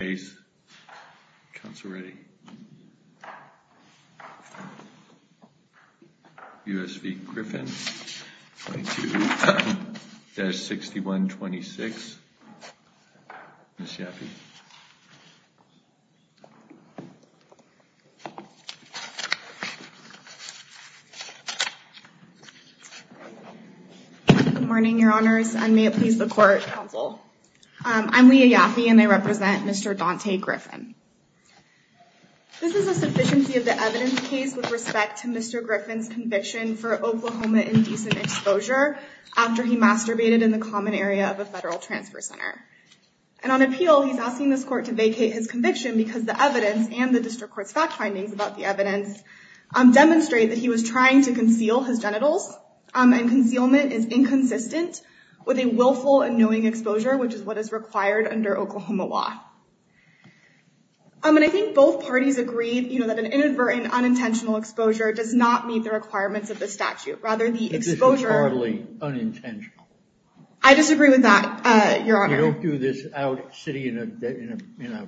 22-6126. Ms. Yaffe? Good morning, Your Honors, and may it please the Court, Counsel. I'm Leah Yaffe, and I represent Mr. Daunte Griffin. This is a sufficiency of the evidence case with respect to Mr. Griffin's conviction for Oklahoma indecent exposure after he masturbated in the common area of a federal transfer center. And on appeal, he's asking this Court to vacate his conviction because the evidence and the District Court's fact findings about the evidence demonstrate that he was trying to conceal his genitals, and concealment is what is required under Oklahoma law. I mean, I think both parties agree, you know, that an inadvertent unintentional exposure does not meet the requirements of the statute. Rather, the exposure... This is hardly unintentional. I disagree with that, Your Honor. You don't do this out sitting in a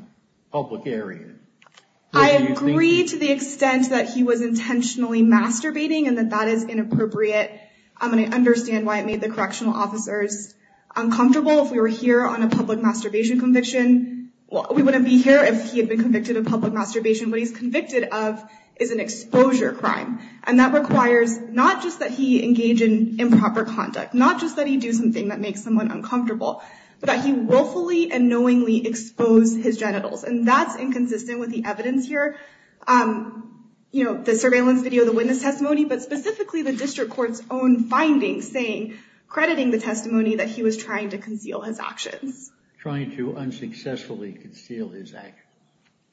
public area. I agree to the extent that he was intentionally masturbating, and that that is inappropriate. I'm going to understand why it made the correctional officers uncomfortable if you're here on a public masturbation conviction. Well, we wouldn't be here if he had been convicted of public masturbation. What he's convicted of is an exposure crime, and that requires not just that he engage in improper conduct, not just that he do something that makes someone uncomfortable, but that he willfully and knowingly exposed his genitals, and that's inconsistent with the evidence here. You know, the surveillance video, the witness testimony that he was trying to conceal his actions. Trying to unsuccessfully conceal his actions.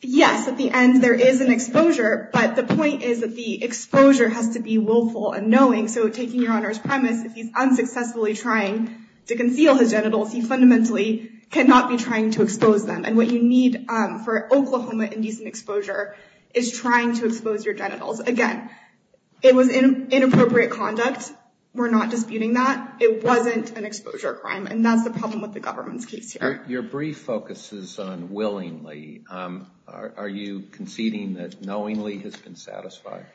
Yes, at the end there is an exposure, but the point is that the exposure has to be willful and knowing, so taking Your Honor's premise, if he's unsuccessfully trying to conceal his genitals, he fundamentally cannot be trying to expose them, and what you need for Oklahoma indecent exposure is trying to expose your genitals. Again, it was in inappropriate conduct. We're not an exposure crime, and that's the problem with the government's case here. Your brief focuses on willingly. Are you conceding that knowingly has been satisfied?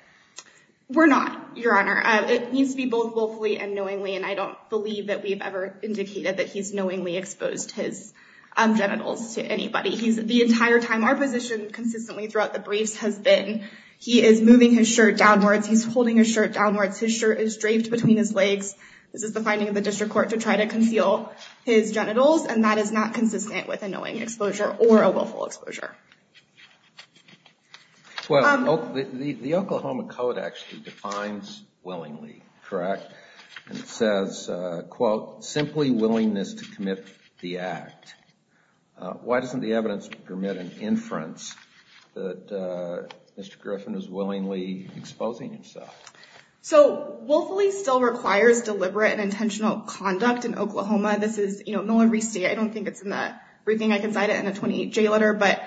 We're not, Your Honor. It needs to be both willfully and knowingly, and I don't believe that we've ever indicated that he's knowingly exposed his genitals to anybody. He's, the entire time, our position consistently throughout the briefs has been he is moving his shirt downwards. He's holding his shirt downwards. His shirt is draped between his legs. This is the finding of the district court to try to conceal his genitals, and that is not consistent with a knowing exposure or a willful exposure. Well, the Oklahoma Code actually defines willingly, correct? It says, quote, simply willingness to commit the act. Why doesn't the evidence permit an inference that Mr. Griffin is willingly exposing himself? So willfully still requires deliberate and intentional conduct in Oklahoma. This is, you know, Miller v. State. I don't think it's in the briefing. I can cite it in a 28J letter, but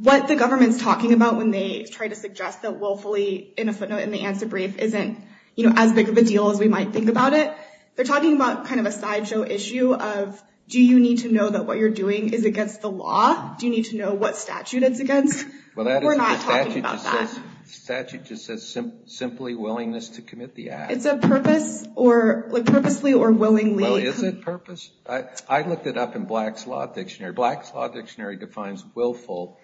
what the government's talking about when they try to suggest that willfully, in a footnote in the answer brief, isn't, you know, as big of a deal as we might think about it, they're talking about kind of a sideshow issue of, do you need to know that what you're doing is against the law? Do you need to know what statute it's against? We're not talking about that. Statute just says simply willingness to commit the act. It's a purpose or, like, purposely or willingly. Well, is it purpose? I looked it up in Black's Law Dictionary. Black's Law Dictionary defines willful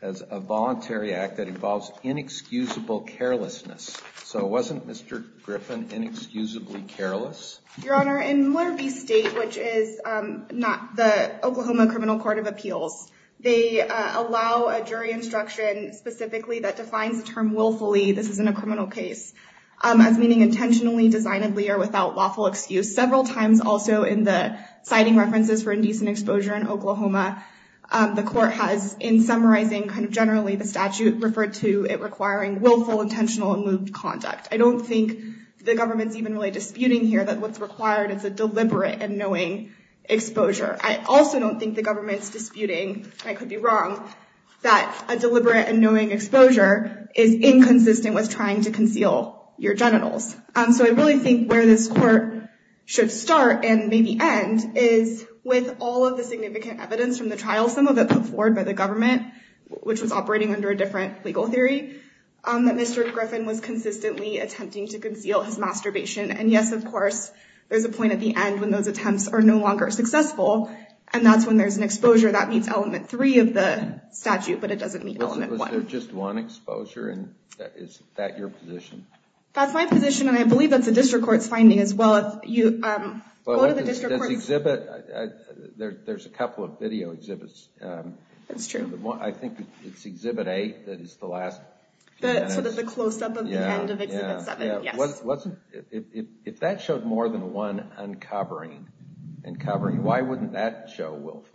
as a voluntary act that involves inexcusable carelessness. So wasn't Mr. Griffin inexcusably careless? Your Honor, in Miller v. State, which is not the Oklahoma Criminal Court of Justice, it defines the term willfully, this isn't a criminal case, as meaning intentionally, designedly, or without lawful excuse. Several times also in the citing references for indecent exposure in Oklahoma, the court has, in summarizing kind of generally the statute, referred to it requiring willful, intentional, and moved conduct. I don't think the government's even really disputing here that what's required is a deliberate and knowing exposure. I also don't think the government's disputing, and I could be wrong, that a deliberate and knowing exposure is inconsistent with trying to conceal your genitals. So I really think where this court should start, and maybe end, is with all of the significant evidence from the trial, some of it put forward by the government, which was operating under a different legal theory, that Mr. Griffin was consistently attempting to conceal his masturbation. And yes, of course, there's a point at the end when those attempts are no longer successful, and that's when there's an exposure that meets element three of the statute, but it doesn't meet element one. Was there just one exposure, and is that your position? That's my position, and I believe that's a district court's finding as well. There's a couple of video exhibits. That's true. I think it's Exhibit 8 that is the last one. The close-up of the end of Exhibit 7. If that showed more than one uncovering, uncovering, why wouldn't that show willfulness?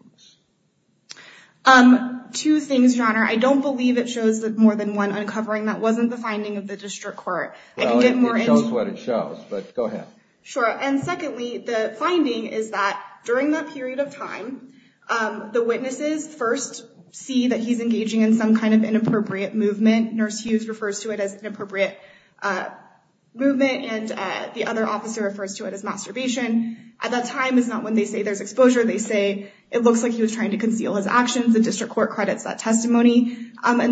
Two things, Your Honor. I don't believe it shows that more than one uncovering. That wasn't the finding of the district court. It shows what it shows, but go ahead. Sure, and secondly, the finding is that during that period of time, the witnesses first see that he's engaging in some kind of inappropriate movement. Nurse Hughes refers to it as inappropriate movement, and the other officer refers to it as masturbation. At that time, it's not when they say there's exposure. They say it looks like he was And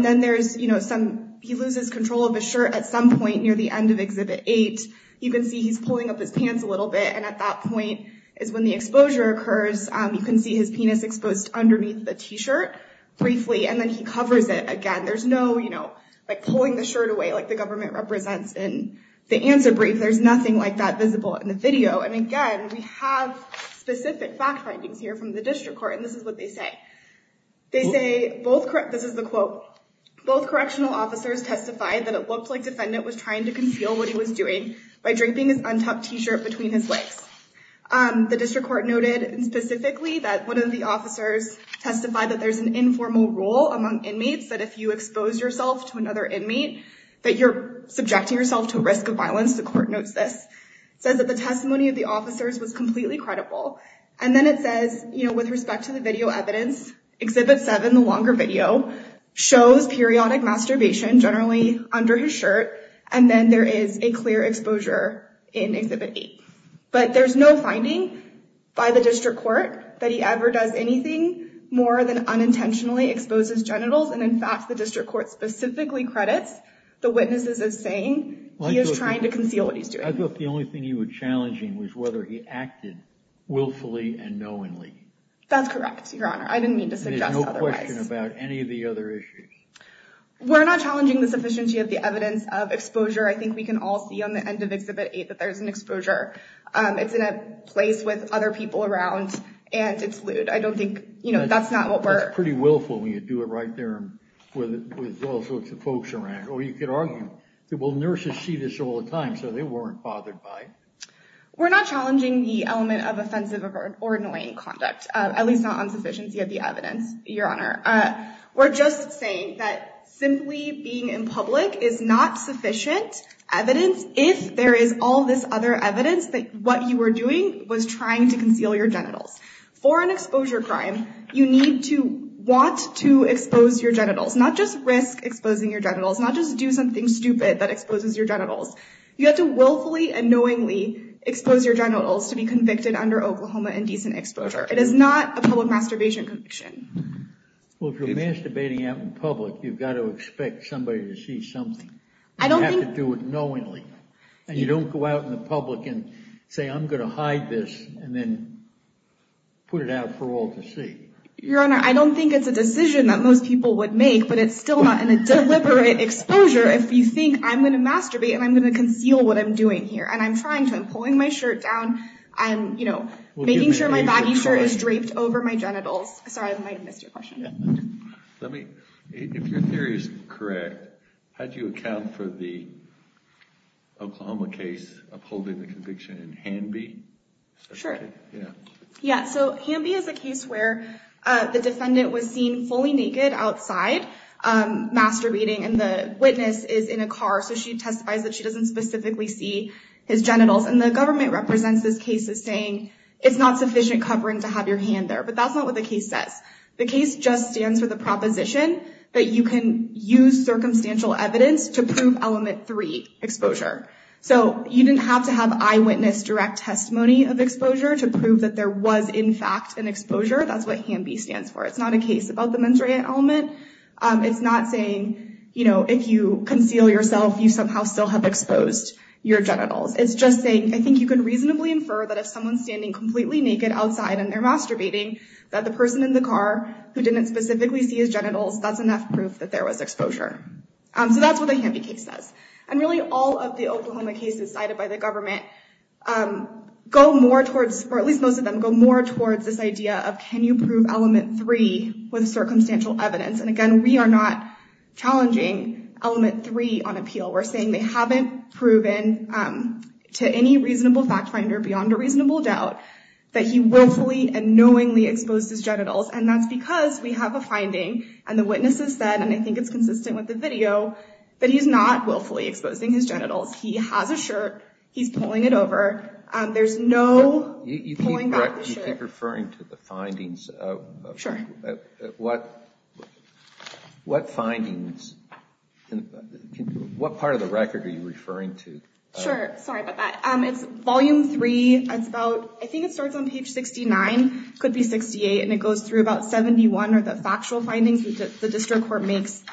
then there's some, he loses control of his shirt at some point near the end of Exhibit 8. You can see he's pulling up his pants a little bit, and at that point is when the exposure occurs. You can see his penis exposed underneath the t-shirt briefly, and then he covers it again. There's no, you know, like pulling the shirt away like the government represents in the answer brief. There's nothing like that visible in the video, and again, we have specific fact findings here from the district court, and this is what they say. They say both this is the quote, both correctional officers testified that it looked like defendant was trying to conceal what he was doing by draping his untucked t-shirt between his legs. The district court noted specifically that one of the officers testified that there's an informal rule among inmates that if you expose yourself to another inmate, that you're subjecting yourself to a risk of violence. The court notes this, says that the testimony of the officers was completely credible, and then it says, you know, with respect to the video evidence, exhibit seven, the longer video, shows periodic masturbation generally under his shirt, and then there is a clear exposure in exhibit eight. But there's no finding by the district court that he ever does anything more than unintentionally exposes genitals, and in fact, the district court specifically credits the witnesses as saying he is trying to conceal what he's doing. I thought the only thing he was challenging was whether he acted willfully and knowingly. That's correct, Your Honor. I didn't mean to suggest otherwise. There's no question about any of the other issues. We're not challenging the sufficiency of the evidence of exposure. I think we can all see on the end of exhibit eight that there's an exposure. It's in a place with other people around, and it's lewd. I don't think, you know, that's not what we're... It's pretty willful when you do it right there with all sorts of folks around. Or you could argue that, well, nurses see this all the time, so they weren't bothered by it. We're not challenging the element of offensive or annoying conduct, at least not on sufficiency of the evidence, Your Honor. We're just saying that simply being in public is not sufficient evidence if there is all this other evidence that what you were doing was trying to conceal your genitals. For an exposure crime, you need to want to expose your genitals, not just risk exposing your genitals, not just do something stupid that exposes your expose your genitals to be convicted under Oklahoma Indecent Exposure. It is not a public masturbation conviction. Well, if you're masturbating out in public, you've got to expect somebody to see something. I don't think... You have to do it knowingly. And you don't go out in the public and say, I'm going to hide this and then put it out for all to see. Your Honor, I don't think it's a decision that most people would make, but it's still not in a deliberate exposure if you think I'm going to masturbate and I'm going to conceal what I'm doing here. And I'm trying to. I'm pulling my shirt down and, you know, making sure my baggy shirt is draped over my genitals. Sorry, I might have missed your question. Let me, if your theory is correct, how do you account for the Oklahoma case upholding the conviction in Hanby? Sure. Yeah. So Hanby is a case where the defendant was seen fully naked outside masturbating and the witness is in a car. So she testifies that she doesn't specifically see his genitals. And the government represents this case as saying it's not sufficient covering to have your hand there. But that's not what the case says. The case just stands for the proposition that you can use circumstantial evidence to prove element three, exposure. So you didn't have to have eyewitness direct testimony of exposure to prove that there was in fact an exposure. That's what Hanby stands for. It's not a case about the mens rea element. It's not saying, you know, if you conceal yourself, you somehow still have exposed your genitals. It's just saying, I think you could reasonably infer that if someone's standing completely naked outside and they're masturbating, that the person in the car who didn't specifically see his genitals, that's enough proof that there was exposure. So that's what the Hanby case says. And really all of the Oklahoma cases cited by the government go more towards, or at least most of them go more towards this idea of can you prove element three with circumstantial evidence? And again, we are not challenging element three on appeal. We're saying they haven't proven to any reasonable fact finder beyond a reasonable doubt that he willfully and knowingly exposed his genitals. And that's because we have a finding and the witnesses said, and I think it's consistent with the video, that he's not willfully exposing his genitals. He has a shirt, he's pulling it over. There's no pulling back the shirt. You keep referring to the findings. Sure. What findings, what part of the record are you referring to? Sure. Sorry about that. It's volume three. It's about, I think it starts on page 69, could be 68. And it goes through about 71 are the factual findings that the district court makes.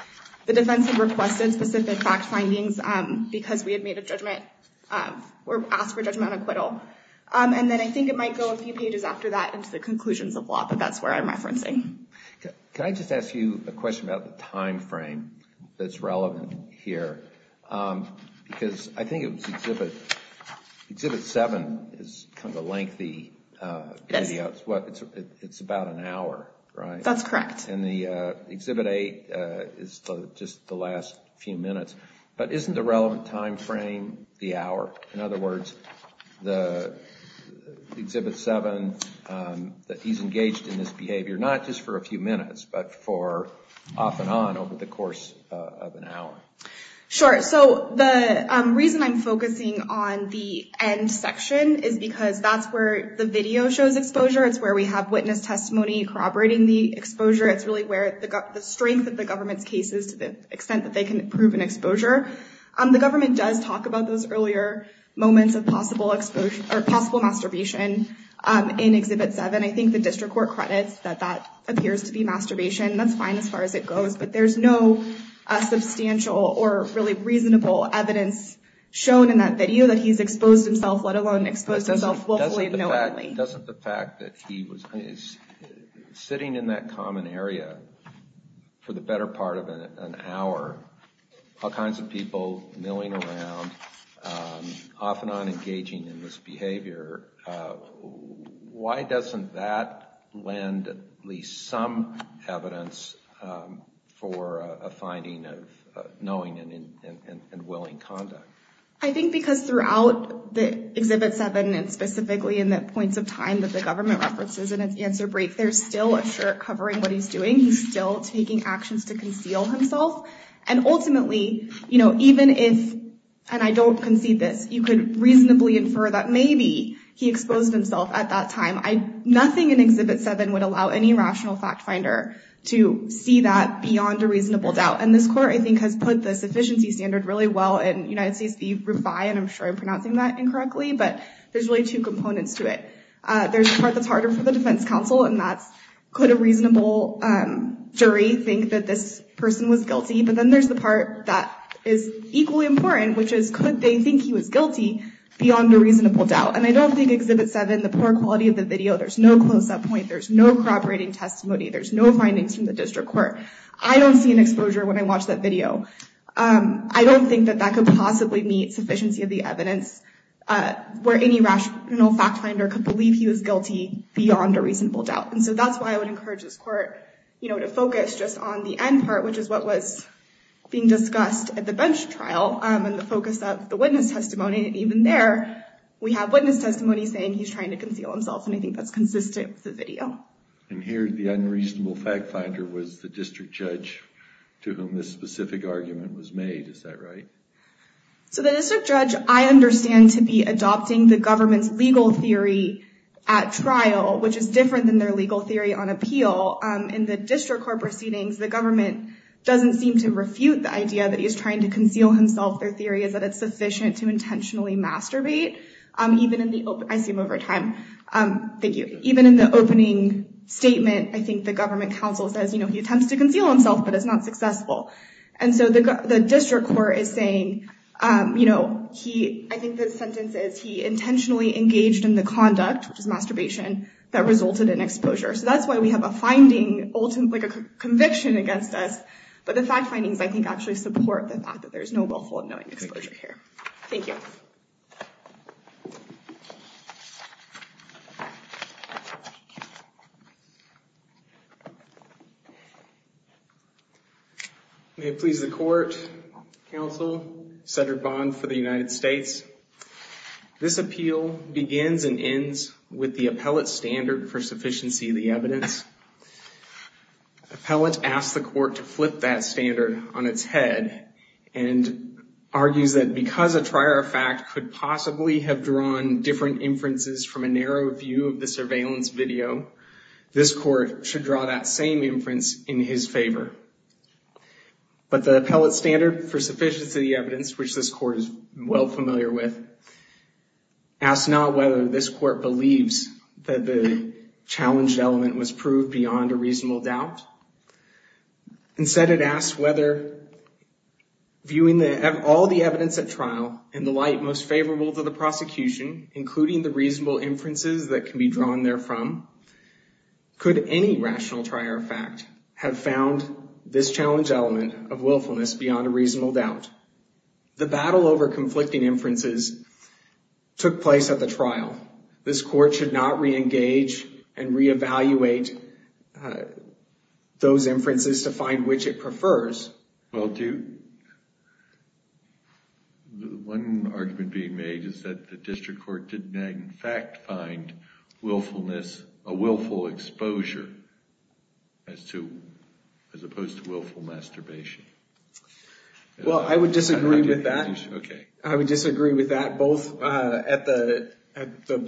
The defense had requested specific fact findings because we had made a judgment or asked for judgmental acquittal. And then I think it might go a few pages after that into the conclusions of law, but that's where I'm referencing. Can I just ask you a question about the time frame that's relevant here? Because I think it was exhibit seven is kind of a lengthy video. It's about an hour, right? That's correct. And the exhibit eight is just the last few minutes. But isn't the relevant time frame the hour? In other words, the exhibit seven, that he's engaged in this behavior, not just for a few minutes, but for off and on over the course of an hour. Sure. So the reason I'm focusing on the end section is because that's where the video shows exposure. It's where we have witness testimony corroborating the exposure. It's really where the strength of the government's case is to the extent that they can prove an exposure. The government does talk about those earlier moments of possible masturbation in exhibit seven. I think the district court credits that that appears to be masturbation. That's fine as far as it goes. But there's no substantial or really reasonable evidence shown in that video that he's exposed himself, let alone exposed himself willfully and knowingly. Doesn't the fact that he is sitting in that common area for the better part of an hour, all kinds of people milling around, off and on engaging in this behavior, why doesn't that lend at least some evidence for a finding of knowing and willing conduct? I think because throughout the exhibit seven and specifically in the points of time that the government references in an answer break, there's still a shirt covering what he's doing. He's still taking actions to conceal himself. And ultimately, you know, even if, and I don't concede this, you could reasonably infer that maybe he exposed himself at that time. Nothing in exhibit seven would allow any rational fact finder to see that beyond a reasonable doubt. And this court, I think, has put this efficiency standard really well in United States v. Rufai, and I'm sure I'm pronouncing that incorrectly, but there's really two components to it. There's the part that's harder for the defense counsel, and that's could a reasonable jury think that this person was guilty? But then there's the part that is equally important, which is could they think he was guilty beyond a reasonable doubt? And I don't think exhibit seven, the poor quality of the video, there's no close up point. There's no cooperating testimony. There's no findings from the district court. I don't see an exposure when I watch that video. I don't think that that could possibly meet sufficiency of the evidence where any rational fact finder could believe he was guilty beyond a reasonable doubt. And so that's why I would encourage this court, you know, to focus just on the end part, which is what was being discussed at the bench trial and the focus of the witness testimony. And even there, we have witness testimony saying he's trying to conceal himself. And I think that's consistent with the video. And here, the unreasonable fact finder was the district judge to whom this specific argument was made. Is that right? So the district judge, I understand, to be adopting the government's legal theory at trial, which is different than their legal theory on appeal. In the district court proceedings, the government doesn't seem to refute the idea that he's trying to conceal himself. Their theory is that it's sufficient to intentionally masturbate even in the open. I see him over time. Thank you. Even in the opening statement, I think the government counsel says, you know, he attempts to conceal himself, but it's not successful. And so the district court is saying, you know, he I think the sentence is he intentionally engaged in the conduct, which is masturbation, that resulted in exposure. So that's why we have a finding, like a conviction against us. But the fact findings, I think, actually support the fact that there is no willful unknowing exposure here. Thank you. May it please the court, counsel, Senator Bond for the United States. This appeal begins and ends with the appellate standard for sufficiency of the evidence. Appellate asked the court to flip that standard on its head and argues that because a trier of fact could possibly have drawn different inferences from a narrow view of the surveillance video, this court should draw that same inference in his favor. But the appellate standard for sufficiency of the evidence, which this court is well familiar with, asked not whether this court believes that the challenged element was proved beyond a reasonable doubt. Instead, it asked whether viewing all the evidence at trial in the light most favorable to the prosecution, including the reasonable inferences that can be drawn there from, could any rational trier of fact have found this challenge element of willfulness beyond a reasonable doubt? The battle over conflicting inferences took place at the trial. This court should not re-engage and re-evaluate those inferences to find which it prefers. Well, one argument being made is that the district court did in fact find willfulness, a willful exposure as opposed to willful masturbation. Well, I would disagree with that. I would disagree with that, both at the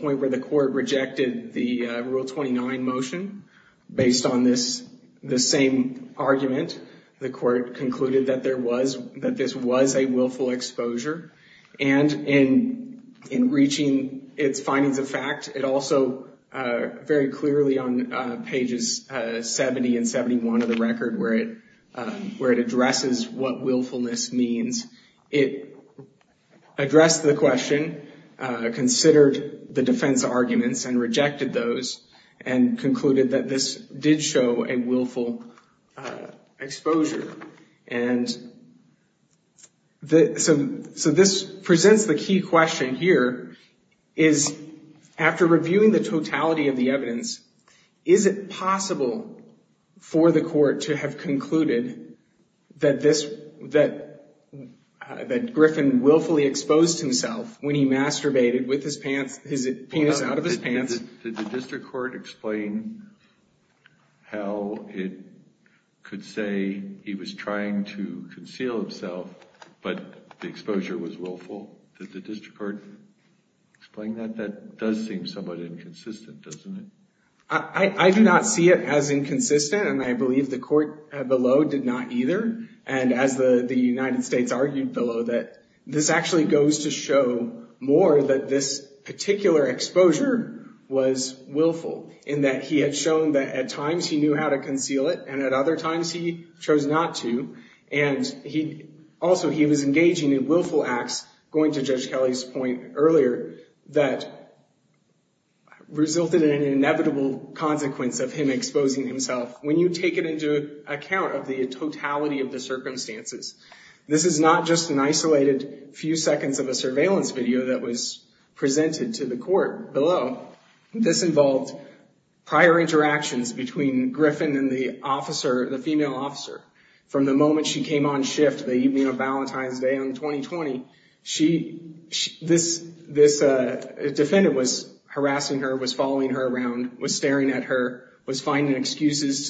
point where the court rejected the Rule 29 motion based on this, the same argument, the court concluded that there was, that this was a willful exposure. And in reaching its findings of fact, it also very clearly on pages 70 and 71 of the Rule 29, addresses what willfulness means. It addressed the question, considered the defense arguments and rejected those and concluded that this did show a willful exposure. And so this presents the key question here is, after reviewing the totality of the evidence, that Griffin willfully exposed himself when he masturbated with his pants, his penis out of his pants. Did the district court explain how it could say he was trying to conceal himself, but the exposure was willful? Did the district court explain that? That does seem somewhat inconsistent, doesn't it? I do not see it as inconsistent. And I believe the court below did not either. And as the United States argued below, that this actually goes to show more that this particular exposure was willful in that he had shown that at times he knew how to conceal it and at other times he chose not to. And he also, he was engaging in willful acts, going to Judge Kelly's point earlier, that resulted in an inevitable consequence of him exposing himself. When you take it into account of the totality of the circumstances, this is not just an isolated few seconds of a surveillance video that was presented to the court below. This involved prior interactions between Griffin and the officer, the female officer. From the moment she came on shift the evening of Valentine's Day in 2020, this defendant was harassing her, was following her around, was staring at her, was finding excuses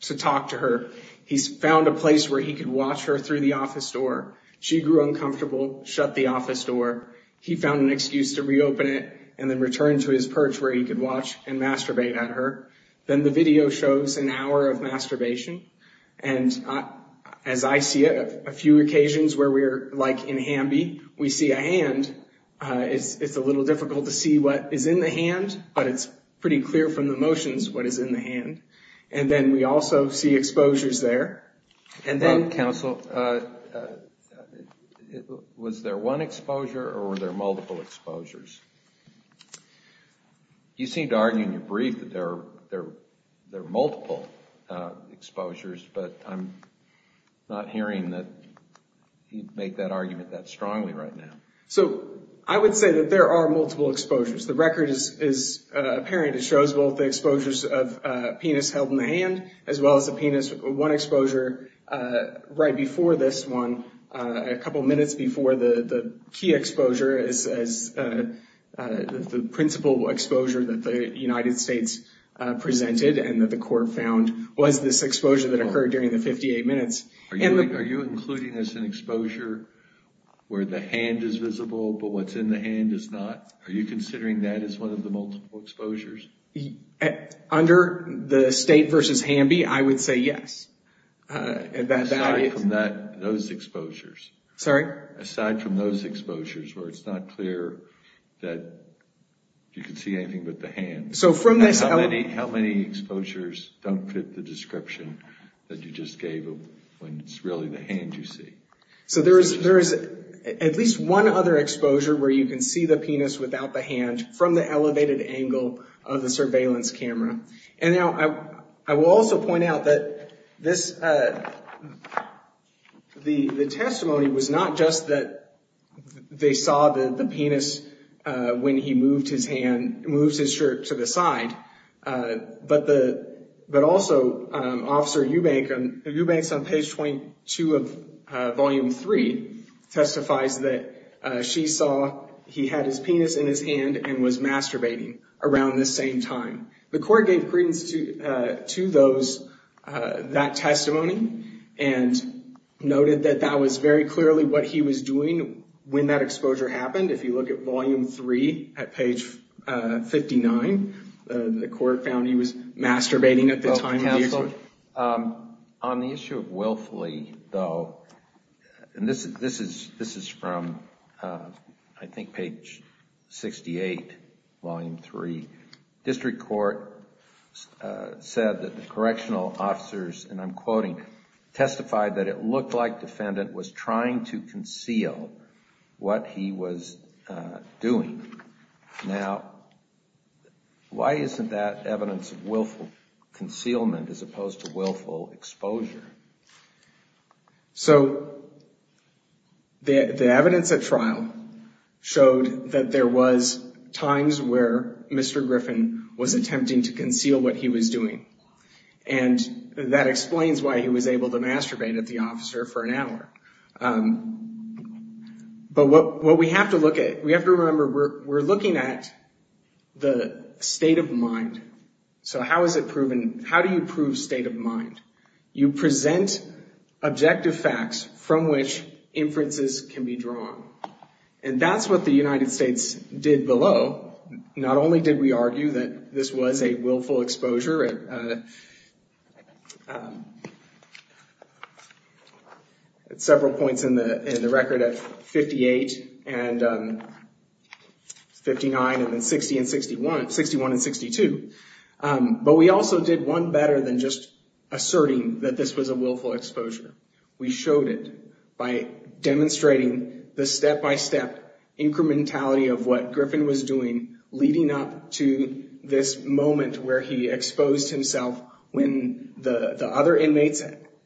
to talk to her. He found a place where he could watch her through the office door. She grew uncomfortable, shut the office door. He found an excuse to reopen it and then return to his perch where he could watch and masturbate at her. Then the video shows an hour of masturbation. And as I see it, a few occasions where we're like in Hamby, we see a hand. It's a little difficult to see what is in the hand, but it's pretty clear from the motions what is in the hand. And then we also see exposures there. And then, counsel, was there one exposure or were there multiple exposures? You seem to argue in your brief that there are multiple exposures, but I'm not hearing that you'd make that argument that strongly right now. So I would say that there are multiple exposures. The record is apparent. It shows both the exposures of a penis held in the hand as well as a penis. One exposure right before this one, a couple of minutes before the key exposure is the principal exposure that the United States presented and that the court found was this exposure that occurred during the 58 minutes. Are you including this in exposure where the hand is visible, but what's in the hand is not? Are you considering that as one of the multiple exposures? Under the state versus Hamby, I would say yes. Aside from those exposures. Sorry? Aside from those exposures where it's not clear that you can see anything but the hand. So from this, how many exposures don't fit the description that you just gave when it's really the hand you see? So there is at least one other exposure where you can see the penis without the hand from the elevated angle of the surveillance camera. And now I will also point out that the testimony was not just that they saw the penis when he moved his hand, moved his shirt to the side, but also Officer Eubanks on page 22 of Volume 3 testifies that she saw he had his penis in his hand and was masturbating around this same time. The court gave credence to those, that testimony, and noted that that was very clearly what he was doing when that exposure happened. If you look at Volume 3 at page 59, the court found he was masturbating at the time. On the issue of Willfully, though, and this is from, I think, page 68, Volume 3, District Court said that the correctional officers, and I'm quoting, testified that it looked like defendant was trying to conceal what he was doing. Now, why isn't that evidence of willful concealment as opposed to willful exposure? So the evidence at trial showed that there was times where Mr. Griffin was attempting to conceal what he was doing, and that explains why he was able to masturbate at the officer for an hour. But what we have to look at, we have to remember, we're looking at the state of mind. So how is it proven? How do you prove state of mind? You present objective facts from which inferences can be drawn, and that's what the United States did below. Not only did we argue that this was a willful exposure at several points in the record at the time, we showed it by demonstrating the step-by-step incrementality of what Griffin was doing leading up to this moment where he exposed himself when the other inmates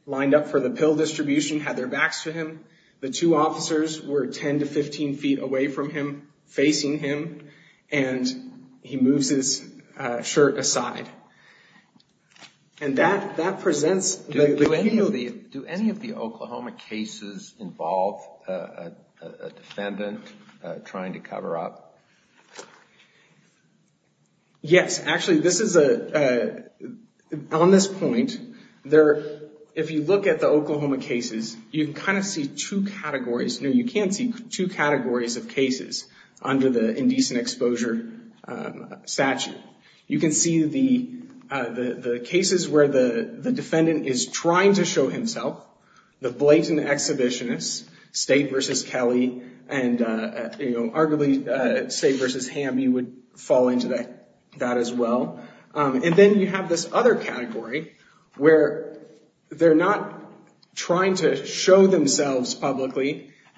lined up for the pill distribution, had their backs to him. The two officers were 10 to 15 feet away from him, facing him, and he moves his shirt aside. And that presents the key. Do any of the Oklahoma cases involve a defendant trying to cover up? Yes. Actually, on this point, if you look at the Oklahoma cases, you can kind of see two categories. No, you can't see two categories of cases under the indecent exposure statute. You can see the cases where the defendant is trying to show himself, the blatant exhibitionist, State v. Kelly, and arguably State v. Hamby would fall into that as well. And then you have this other category where they're not trying to show themselves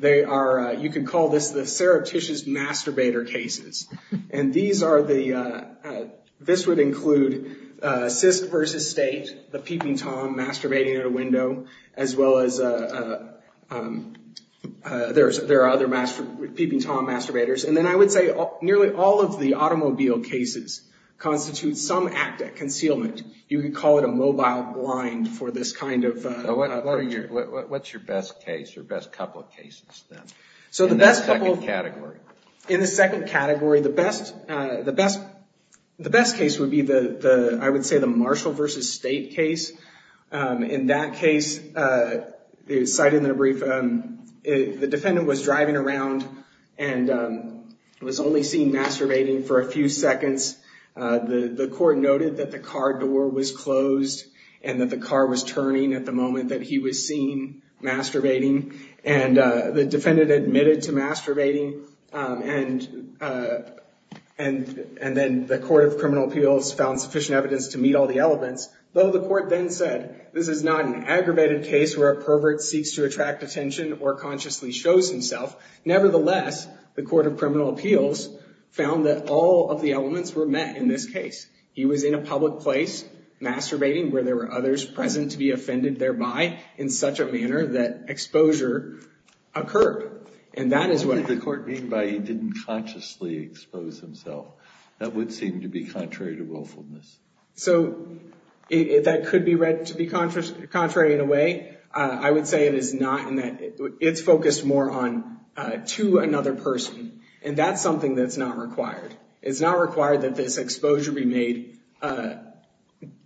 They are, you can call this the surreptitious masturbator cases. And these are the, this would include CISC v. State, the peeping Tom masturbating at a window, as well as there are other peeping Tom masturbators. And then I would say nearly all of the automobile cases constitute some act of concealment. You could call it a mobile blind for this kind of. What's your best case, your best couple of cases then? In the second category. The best case would be the, I would say the Marshall v. State case. In that case, cited in a brief, the defendant was driving around and was only seen masturbating for a few seconds. The court noted that the car door was closed and that the car was turning at the moment that he was seen masturbating. And the defendant admitted to masturbating and then the court of criminal appeals found sufficient evidence to meet all the elements. Though the court then said, this is not an aggravated case where a pervert seeks to attract attention or consciously shows himself. Nevertheless, the court of criminal appeals found that all of the elements were met in this case. He was in a public place masturbating where there were others present to be offended thereby in such a manner that exposure occurred. And that is what the court mean by he didn't consciously expose himself. That would seem to be contrary to willfulness. So, that could be read to be contrary in a way. I would say it is not in that, it's focused more on to another person. And that's something that's not required. It's not required that this exposure be made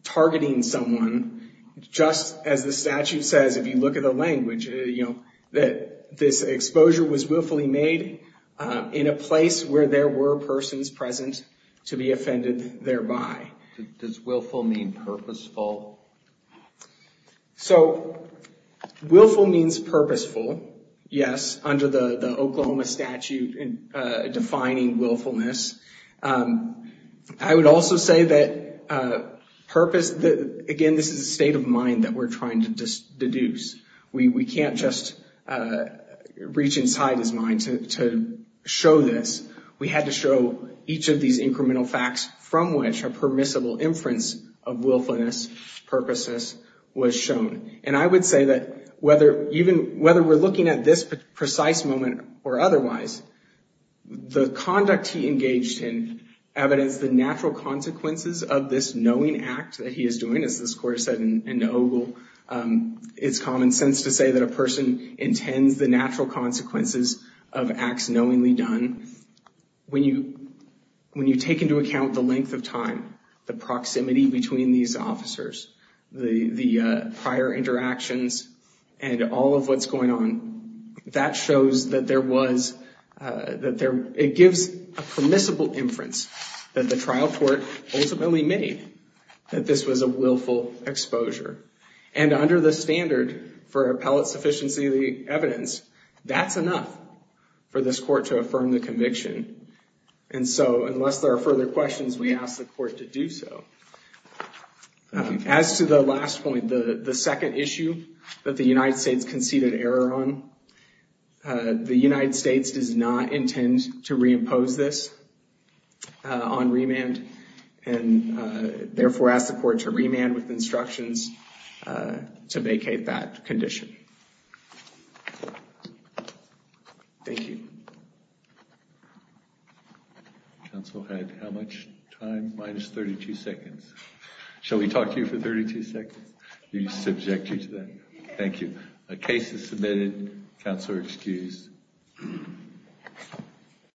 targeting someone just as the statute says. If you look at the language, you know, that this exposure was willfully made in a place where there were persons present to be offended thereby. Does willful mean purposeful? So, willful means purposeful, yes. Under the Oklahoma statute defining willfulness. I would also say that purpose, again, this is a state of mind that we're trying to deduce. We can't just reach inside his mind to show this. We had to show each of these incremental facts from which a permissible inference of willfulness, purposeness was shown. And I would say that whether we're looking at this precise moment or otherwise, the conduct he engaged in evidenced the natural consequences of this knowing act that he is doing. As the court said in Ogle, it's common sense to say that a person intends the natural consequences of acts knowingly done. When you take into account the length of time, the proximity between these officers, the prior interactions and all of what's going on, that shows that there was, that there, it gives a permissible inference that the trial court ultimately made that this was a willful exposure. And under the standard for appellate sufficiency of the evidence, that's enough for this court to affirm the conviction. And so unless there are further questions, we ask the court to do so. As to the last point, the second issue that the United States conceded error on, the United States does not intend to reimpose this on remand and therefore ask the court to remand with instructions to vacate that condition. Thank you. Counsel had how much time? Minus 32 seconds. Shall we talk to you for 32 seconds? You subject you to that? Thank you. A case is submitted. Counselor excused.